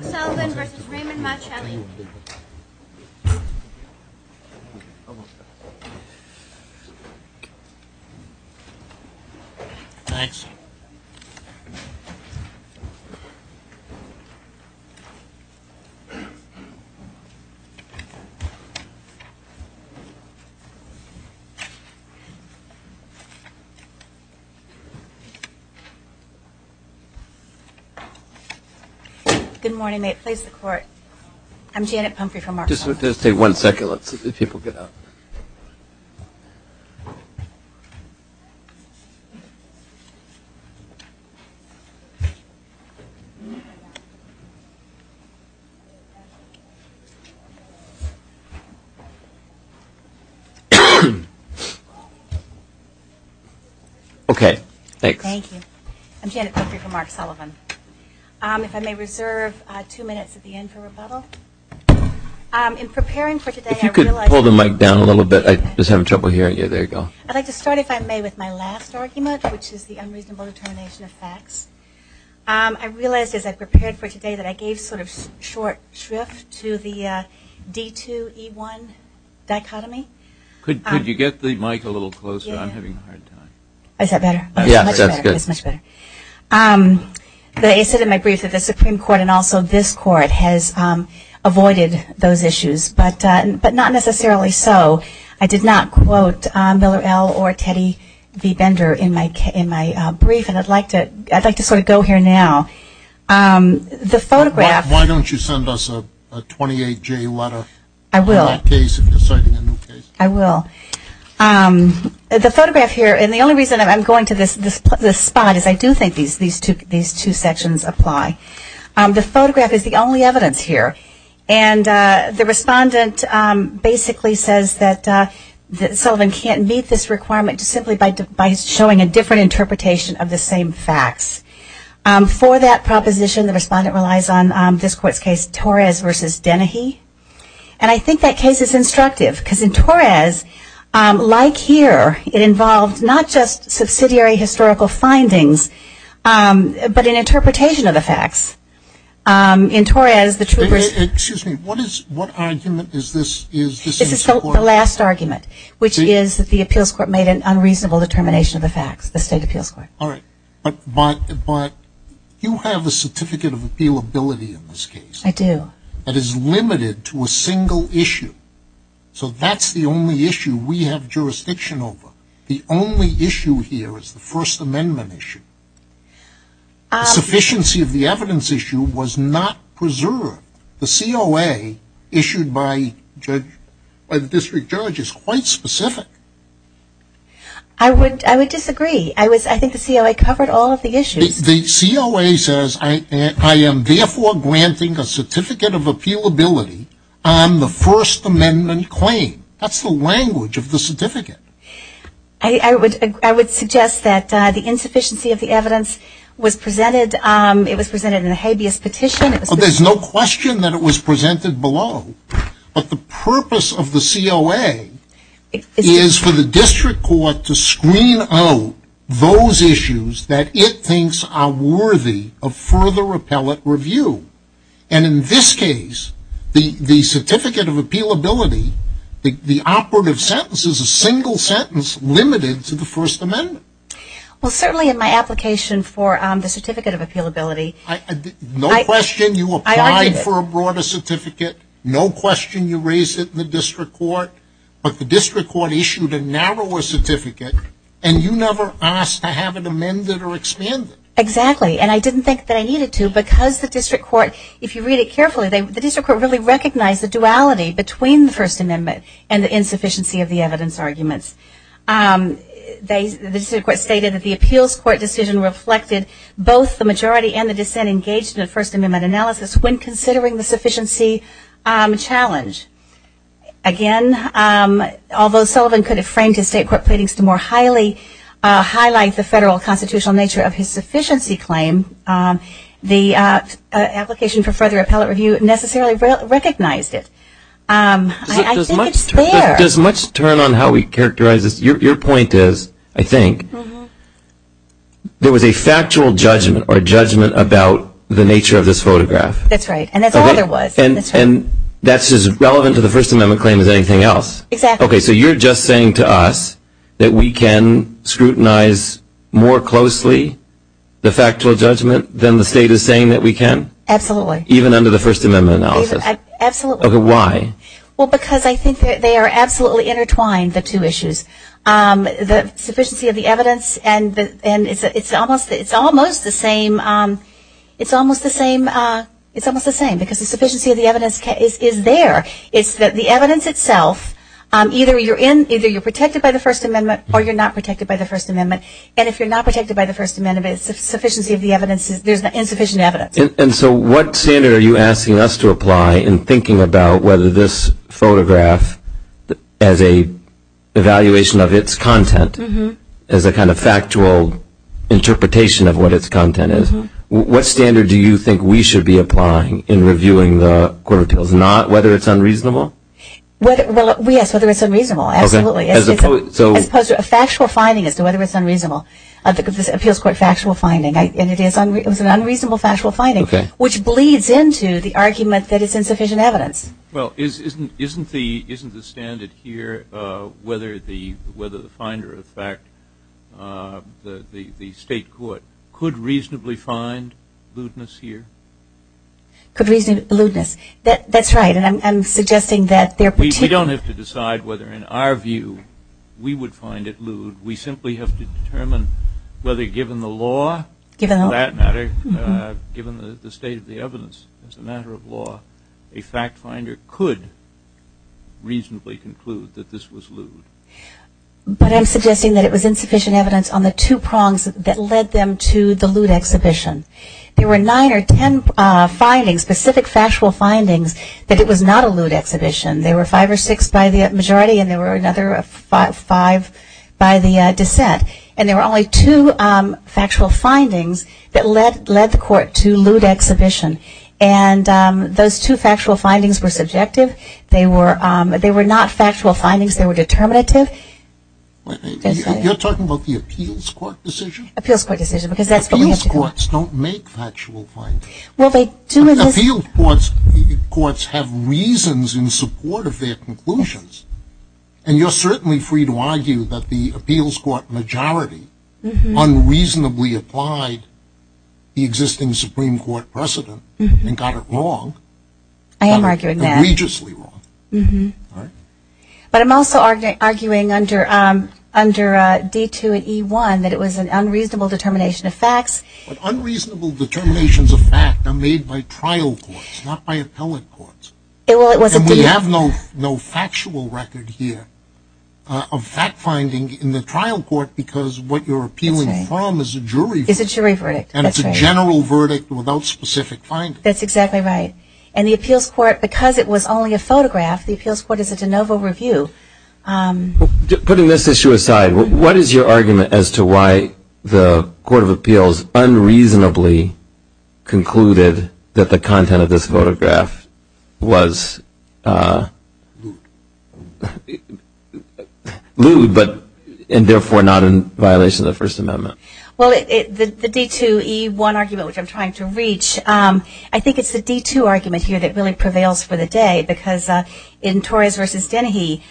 Mark Sullivan v. Raymond Marchelli Thanks Good morning. May it please the Court. I'm Janet Pumphrey from Mark Sullivan. If I may reserve two minutes at the end for rebuttal. I'd like to start if I may with my last argument, which is the unreasonable determination of facts. I realized as I prepared for today that I gave sort of short shrift to the D2E1 dichotomy. Could you get the mic a little closer? I'm having a hard time. Is that better? Much better. They said in my brief that the Supreme Court and also this Court has avoided those issues, but not necessarily so. I did not quote Miller L. or Teddy V. Bender in my brief, and I'd like to sort of go here now. The photograph Why don't you send us a 28-J letter on that case if you're citing a new case? I will. The photograph here, and the only reason I'm going to this spot is I do think these two sections apply. The photograph is the only evidence here. And the respondent basically says that Sullivan can't meet this requirement simply by showing a different interpretation of the same facts. For that proposition, the respondent relies on this Court's case, Torres v. Dennehy. And I think that case is instructive, because in Torres, like here, it involved not just subsidiary historical findings, but an interpretation of the facts. In Torres, the truth was Excuse me. What argument is this? This is the last argument, which is that the Appeals Court made an unreasonable determination of the facts, the State Appeals Court. All right. But you have a certificate of appealability in this case. I do. That is limited to a single issue. So that's the only issue we have jurisdiction over. The only issue here is the First Amendment issue. The sufficiency of the evidence issue was not preserved. The COA issued by the district judge is quite specific. I would disagree. I think the COA covered all of the issues. The COA says, I am therefore granting a certificate of appealability on the First Amendment claim. That's the language of the certificate. I would suggest that the insufficiency of the evidence was presented in a habeas petition. There's no question that it was presented below. But the purpose of the COA is for the district court to screen out those issues that it thinks are worthy of further appellate review. And in this case, the certificate of appealability, the operative sentence is a single sentence limited to the First Amendment. Well, certainly in my application for the certificate of appealability. No question you applied for a broader certificate. No question you raised it in the district court. But the district court issued a narrower certificate. And you never asked to have it amended or expanded. Exactly. And I didn't think that I needed to because the district court, if you read it carefully, the district court really recognized the duality between the First Amendment and the insufficiency of the evidence arguments. The district court stated that the appeals court decision reflected both the majority and the dissent engaged in the First Amendment analysis when considering the sufficiency challenge. Again, although Sullivan could have framed his state court pleadings to more highly highlight the federal constitutional nature of his sufficiency claim, the application for further appellate review necessarily recognized it. I think it's there. Does much turn on how we characterize this? Your point is, I think, there was a factual judgment or judgment about the nature of this photograph. That's right. And that's all there was. And that's as relevant to the First Amendment claim as anything else. Exactly. Okay, so you're just saying to us that we can scrutinize more closely the factual judgment than the state is saying that we can? Absolutely. Even under the First Amendment analysis? Absolutely. Okay, why? Well, because I think they are absolutely intertwined, the two issues. The sufficiency of the evidence and it's almost the same because the sufficiency of the evidence is there. It's that the evidence itself, either you're protected by the First Amendment or you're not protected by the First Amendment. And if you're not protected by the First Amendment, the sufficiency of the evidence, there's insufficient evidence. And so what standard are you asking us to apply in thinking about whether this photograph, as an evaluation of its content, as a kind of factual interpretation of what its content is, what standard do you think we should be applying in reviewing the Court of Appeals? Not whether it's unreasonable? Well, yes, whether it's unreasonable. Absolutely. As opposed to a factual finding as to whether it's unreasonable. The Appeals Court factual finding, and it is an unreasonable factual finding, which bleeds into the argument that it's insufficient evidence. Well, isn't the standard here whether the finder of fact, the state court, could reasonably find lewdness here? Could reasonably find lewdness. That's right, and I'm suggesting that they're particularly? We don't have to decide whether, in our view, we would find it lewd. We simply have to determine whether, given the law, for that matter, given the state of the evidence, as a matter of law, a fact finder could reasonably conclude that this was lewd. But I'm suggesting that it was insufficient evidence on the two prongs that led them to the lewd exhibition. There were nine or ten findings, specific factual findings, that it was not a lewd exhibition. There were five or six by the majority, and there were another five by the dissent. And there were only two factual findings that led the court to lewd exhibition. And those two factual findings were subjective. They were not factual findings. They were determinative. You're talking about the Appeals Court decision? Appeals Court decision, because that's what we have to do. Appeals Courts don't make factual findings. Appeals Courts have reasons in support of their conclusions, and you're certainly free to argue that the Appeals Court majority unreasonably applied the existing Supreme Court precedent and got it wrong, egregiously wrong. I am arguing that. But I'm also arguing under D2 and E1 that it was an unreasonable determination of facts. But unreasonable determinations of fact are made by trial courts, not by appellate courts. And we have no factual record here of fact-finding in the trial court, because what you're appealing from is a jury verdict, and it's a general verdict without specific findings. That's exactly right. And the Appeals Court, because it was only a photograph, the Appeals Court is a de novo review. Putting this issue aside, what is your argument as to why the Court of Appeals unreasonably concluded that the content of this photograph was lewd, and therefore not in violation of the First Amendment? Well, the D2, E1 argument, which I'm trying to reach, I think it's the D2 argument here that really prevails for the day, because in Torres v. Dennehy,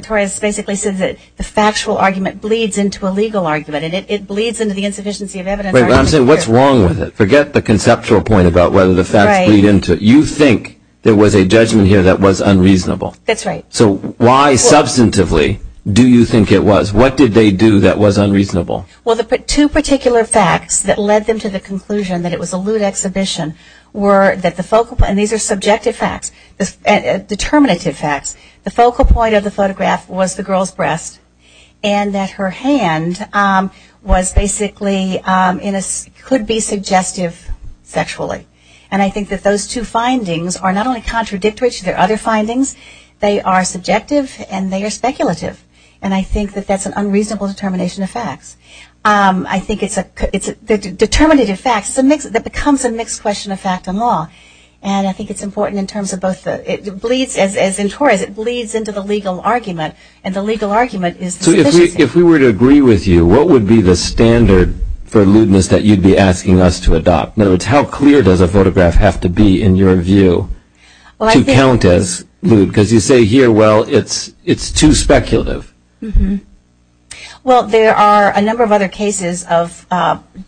Torres basically says that the factual argument bleeds into a legal argument, and it bleeds into the insufficiency of evidence argument here. Wait a minute. I'm saying what's wrong with it? Forget the conceptual point about whether the facts bleed into it. You think there was a judgment here that was unreasonable. That's right. So why substantively do you think it was? What did they do that was unreasonable? Well, the two particular facts that led them to the conclusion that it was a lewd exhibition were that the focal point, and these are subjective facts, determinative facts, the focal point of the photograph was the girl's breast, and that her hand was basically could be suggestive sexually. And I think that those two findings are not only contradictory to their other findings, they are subjective and they are speculative. And I think that that's an unreasonable determination of facts. I think it's a determinative fact that becomes a mixed question of fact and law, and I think it's important in terms of both. It bleeds, as in Torres, it bleeds into the legal argument, and the legal argument is the insufficiency. So if we were to agree with you, what would be the standard for lewdness that you'd be asking us to adopt? In other words, how clear does a photograph have to be in your view to count as lewd? Because you say here, well, it's too speculative. Well, there are a number of other cases of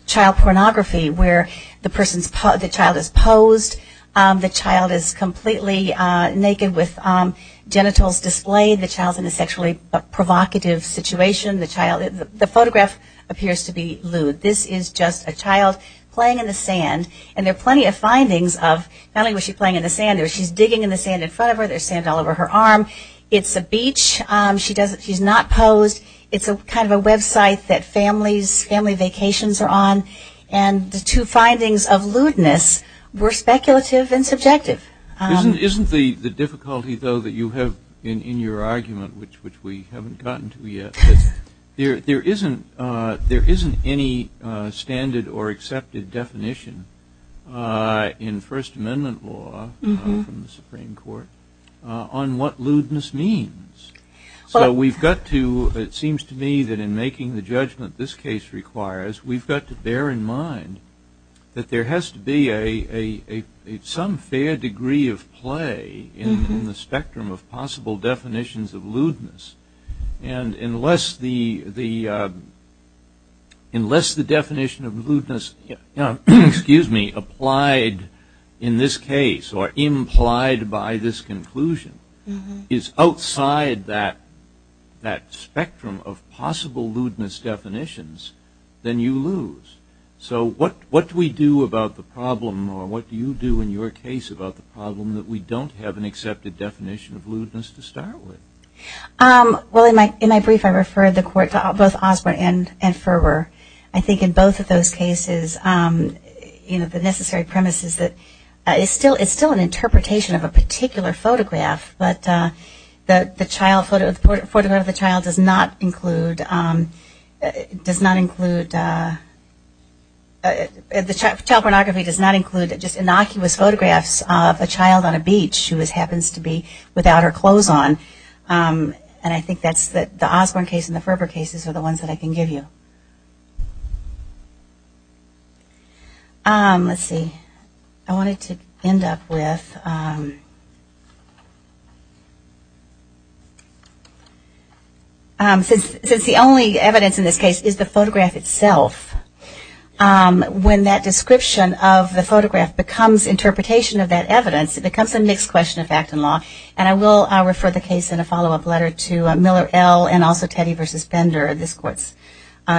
child pornography where the child is posed, the child is completely naked with genitals displayed, the child's in a sexually provocative situation, the photograph appears to be lewd. This is just a child playing in the sand, and there are plenty of findings of not only was she playing in the sand, she's digging in the sand in front of her, there's sand all over her arm, it's a beach, she's not posed, it's kind of a website that family vacations are on, and the two findings of lewdness were speculative and subjective. Isn't the difficulty, though, that you have in your argument, which we haven't gotten to yet, that there isn't any standard or accepted definition in First Amendment law from the Supreme Court on what lewdness means. So we've got to, it seems to me that in making the judgment this case requires, we've got to bear in mind that there has to be some fair degree of play in the spectrum of possible definitions of lewdness. And unless the definition of lewdness applied in this case, or implied by this conclusion, is outside that spectrum of possible lewdness definitions, then you lose. So what do we do about the problem, or what do you do in your case about the problem, that we don't have an accepted definition of lewdness to start with? Well, in my brief, I referred the court to both Osborne and Furwer. I think in both of those cases, the necessary premise is that it's still an interpretation of a particular photograph, but the photograph of the child does not include, child pornography does not include just innocuous photographs of a child on a beach who happens to be without her clothes on. And I think that's the Osborne case and the Furwer cases are the ones that I can give you. Let's see. I wanted to end up with, since the only evidence in this case is the photograph itself, when that description of the photograph becomes interpretation of that evidence, it becomes a mixed question of fact and law. And I will refer the case in a follow-up letter to Miller L. and also Teddy v. Bender, this court's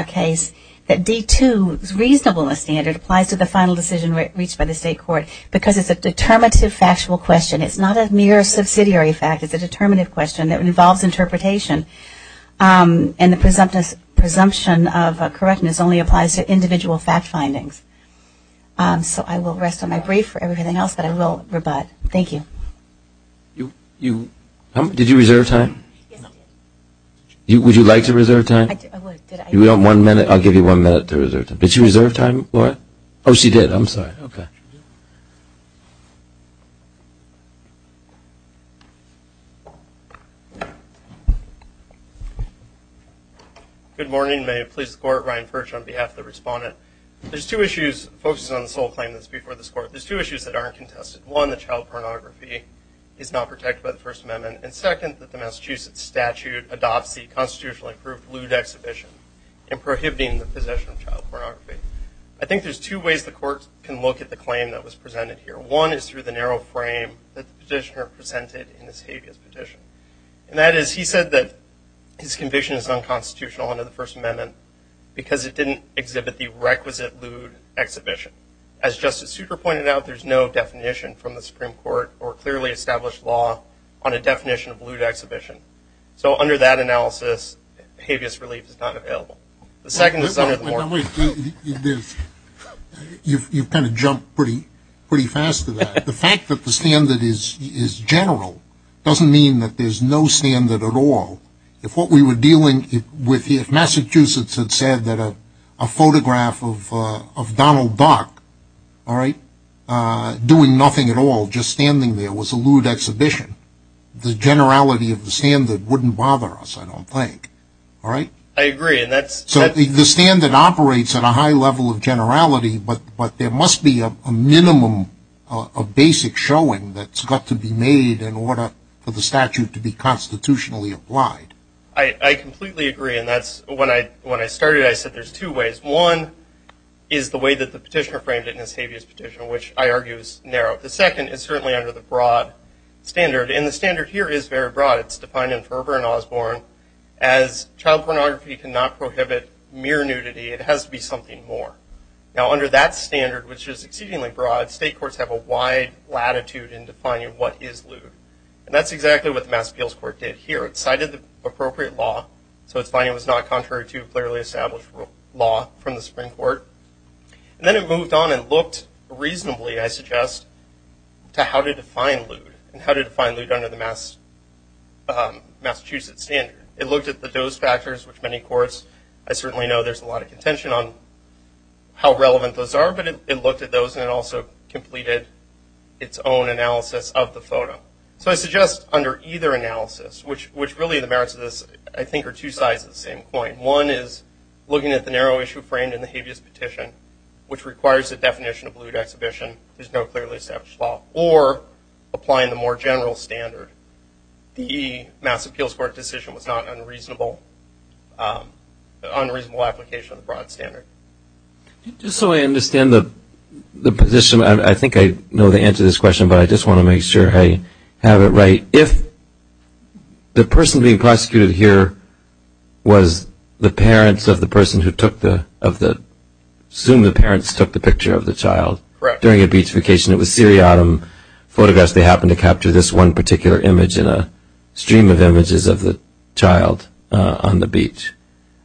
case, that D-2's reasonableness standard applies to the final decision reached by the state court because it's a determinative factual question. It's not a mere subsidiary fact. It's a determinative question that involves interpretation. And the presumption of correctness only applies to individual fact findings. So I will rest on my brief for everything else, but I will rebut. Thank you. Did you reserve time? Yes, I did. Would you like to reserve time? I would. Do you want one minute? I'll give you one minute to reserve time. Did she reserve time, Laura? Oh, she did. I'm sorry. Okay. Good morning. May it please the Court. Ryan Furch on behalf of the Respondent. There's two issues focusing on the sole claim that's before this Court. There's two issues that aren't contested. One, that child pornography is not protected by the First Amendment. And second, that the Massachusetts statute adopts the constitutionally approved lewd exhibition and prohibiting the possession of child pornography. I think there's two ways the Court can look at the claim that was presented here. One is through the narrow frame that the petitioner presented in his habeas petition. And that is he said that his conviction is unconstitutional under the First Amendment because it didn't exhibit the requisite lewd exhibition. As Justice Souter pointed out, there's no definition from the Supreme Court or clearly established law on a definition of lewd exhibition. So under that analysis, habeas relief is not available. The second is some of the more... Wait. You've kind of jumped pretty fast to that. The fact that the standard is general doesn't mean that there's no standard at all. If Massachusetts had said that a photograph of Donald Duck doing nothing at all, just standing there, was a lewd exhibition, the generality of the standard wouldn't bother us, I don't think. I agree. The standard operates at a high level of generality, but there must be a minimum of basic showing that's got to be made in order for the statute to be constitutionally applied. I completely agree, and when I started I said there's two ways. One is the way that the petitioner framed it in his habeas petition, which I argue is narrow. The second is certainly under the broad standard, and the standard here is very broad. It's defined in Ferber and Osborne as child pornography cannot prohibit mere nudity. It has to be something more. Now, under that standard, which is exceedingly broad, state courts have a wide latitude in defining what is lewd. That's exactly what the Mass Appeals Court did here. It cited the appropriate law, so its finding was not contrary to clearly established law from the Supreme Court. Then it moved on and looked reasonably, I suggest, to how to define lewd and how to define lewd under the Massachusetts standard. It looked at the dose factors, which many courts, I certainly know there's a lot of contention on how relevant those are, but it looked at those and it also completed its own analysis of the photo. So I suggest under either analysis, which really the merits of this, I think, are two sides of the same coin. One is looking at the narrow issue framed in the habeas petition, which requires the definition of lewd exhibition, there's no clearly established law, or applying the more general standard. The Mass Appeals Court decision was not an unreasonable application of the broad standard. Just so I understand the position, I think I know the answer to this question, but I just want to make sure I have it right. If the person being prosecuted here was the parents of the person who took the, assume the parents took the picture of the child. Correct. During a beach vacation, it was Siri Autumn photographs. They happened to capture this one particular image in a stream of images of the child on the beach.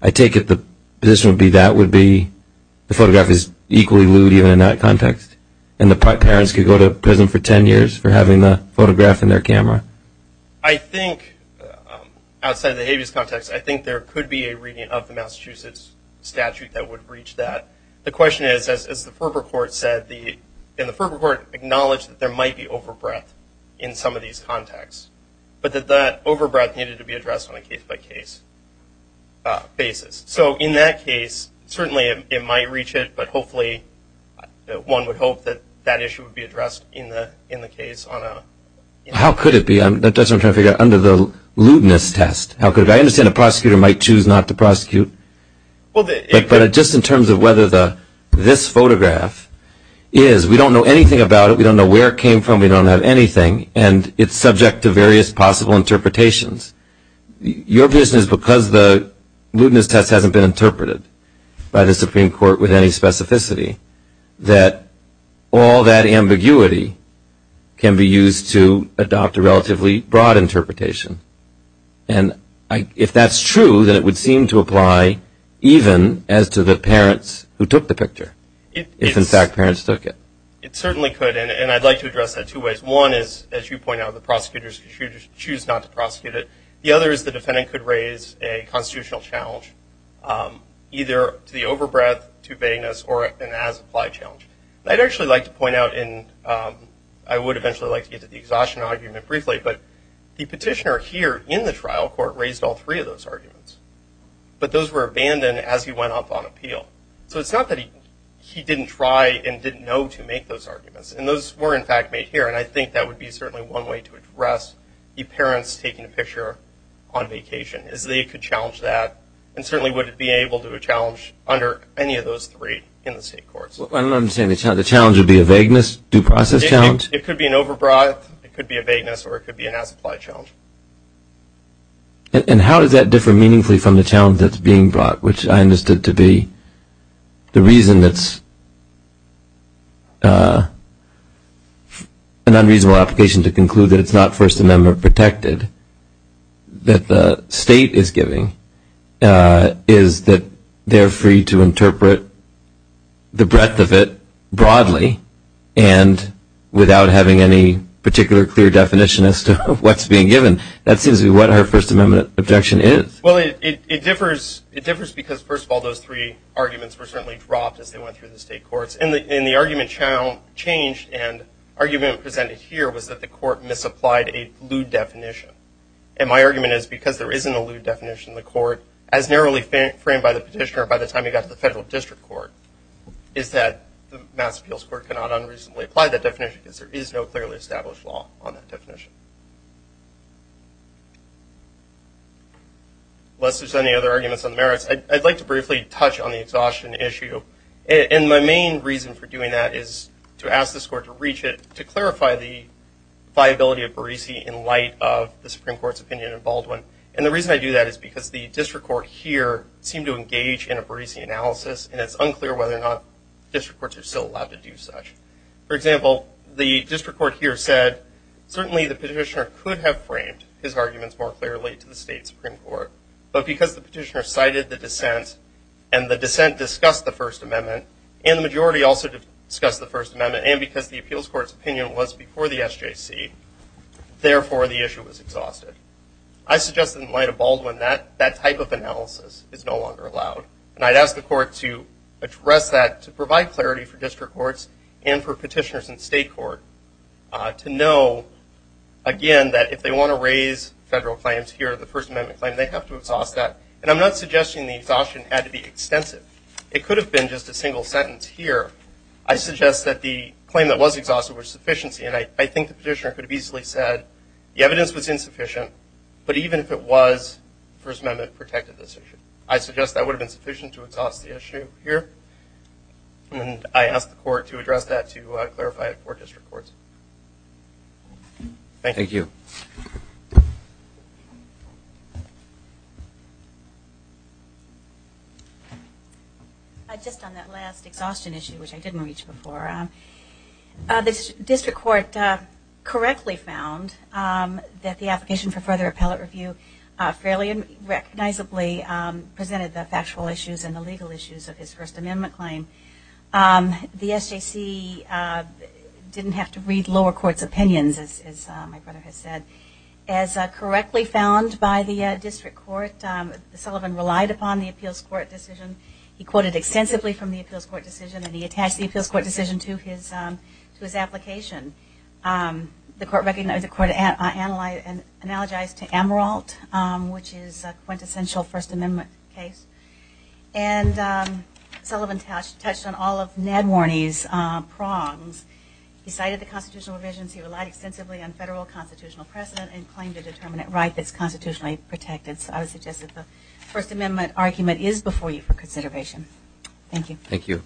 I take it the position would be that would be, the photograph is equally lewd even in that context, and the parents could go to prison for ten years for having the photograph in their camera. I think, outside of the habeas context, I think there could be a reading of the Massachusetts statute that would breach that. The question is, as the Ferber Court said, and the Ferber Court acknowledged that there might be over breadth in some of these contexts, but that that over breadth needed to be addressed on a case-by-case basis. So in that case, certainly it might reach it, but hopefully one would hope that that issue would be addressed in the case. How could it be? That's what I'm trying to figure out, under the lewdness test. I understand the prosecutor might choose not to prosecute, but just in terms of whether this photograph is, we don't know anything about it, we don't know where it came from, we don't have anything, and it's subject to various possible interpretations. Your position is because the lewdness test hasn't been interpreted by the Supreme Court with any specificity, that all that ambiguity can be used to adopt a relatively broad interpretation. And if that's true, then it would seem to apply even as to the parents who took the picture, if in fact parents took it. It certainly could, and I'd like to address that two ways. One is, as you point out, the prosecutors could choose not to prosecute it. The other is the defendant could raise a constitutional challenge, either to the over breadth, to vagueness, or an as-applied challenge. I'd actually like to point out, and I would eventually like to get to the exhaustion argument briefly, but the petitioner here in the trial court raised all three of those arguments, but those were abandoned as he went up on appeal. So it's not that he didn't try and didn't know to make those arguments, and those were, in fact, made here, and I think that would be certainly one way to address the parents taking a picture on vacation, is they could challenge that, and certainly wouldn't be able to do a challenge under any of those three in the state courts. I don't understand. The challenge would be a vagueness due process challenge? It could be an over breadth, it could be a vagueness, or it could be an as-applied challenge. And how does that differ meaningfully from the challenge that's being brought, which I understood to be the reason it's an unreasonable application to conclude that it's not First Amendment protected, that the state is giving, is that they're free to interpret the breadth of it broadly and without having any particular clear definition as to what's being given. That seems to be what her First Amendment objection is. Well, it differs because, first of all, those three arguments were certainly dropped as they went through the state courts, and the argument changed, and the argument presented here was that the court misapplied a lewd definition. And my argument is because there isn't a lewd definition in the court, as narrowly framed by the petitioner by the time he got to the federal district court, is that the Mass Appeals Court cannot unreasonably apply that definition because there is no clearly established law on that definition. Unless there's any other arguments on the merits, I'd like to briefly touch on the exhaustion issue. And my main reason for doing that is to ask this court to reach it, to clarify the viability of Barisi in light of the Supreme Court's opinion in Baldwin. And the reason I do that is because the district court here seemed to engage in a Barisi analysis, and it's unclear whether or not district courts are still allowed to do such. For example, the district court here said, certainly the petitioner could have framed his arguments more clearly to the state Supreme Court, but because the petitioner cited the dissent, and the dissent discussed the First Amendment, and the majority also discussed the First Amendment, and because the Appeals Court's opinion was before the SJC, therefore the issue was exhausted. I suggest that in light of Baldwin, that type of analysis is no longer allowed. And I'd ask the court to address that, to provide clarity for district courts and for petitioners in state court to know, again, that if they want to raise federal claims here, the First Amendment claim, they have to exhaust that. And I'm not suggesting the exhaustion had to be extensive. It could have been just a single sentence here. I suggest that the claim that was exhausted was sufficiency, and I think the petitioner could have easily said the evidence was insufficient, but even if it was, the First Amendment protected this issue. I suggest that would have been sufficient to exhaust the issue here, and I ask the court to address that to clarify it for district courts. Thank you. Just on that last exhaustion issue, which I didn't reach before, the district court correctly found that the application for further appellate review fairly and recognizably presented the factual issues and the legal issues of his First Amendment claim. The SJC didn't have to read lower court's opinions, as my brother has said. As correctly found by the district court, Sullivan relied upon the appeals court decision. He quoted extensively from the appeals court decision, and he attached the appeals court decision to his application. The court recognized the court analogized to Amaralt, which is a quintessential First Amendment case, and Sullivan touched on all of Ned Warney's prongs. He cited the constitutional provisions. He relied extensively on federal constitutional precedent and claimed a determinant right that's constitutionally protected, so I would suggest that the First Amendment argument is before you for consideration. Thank you. Thank you.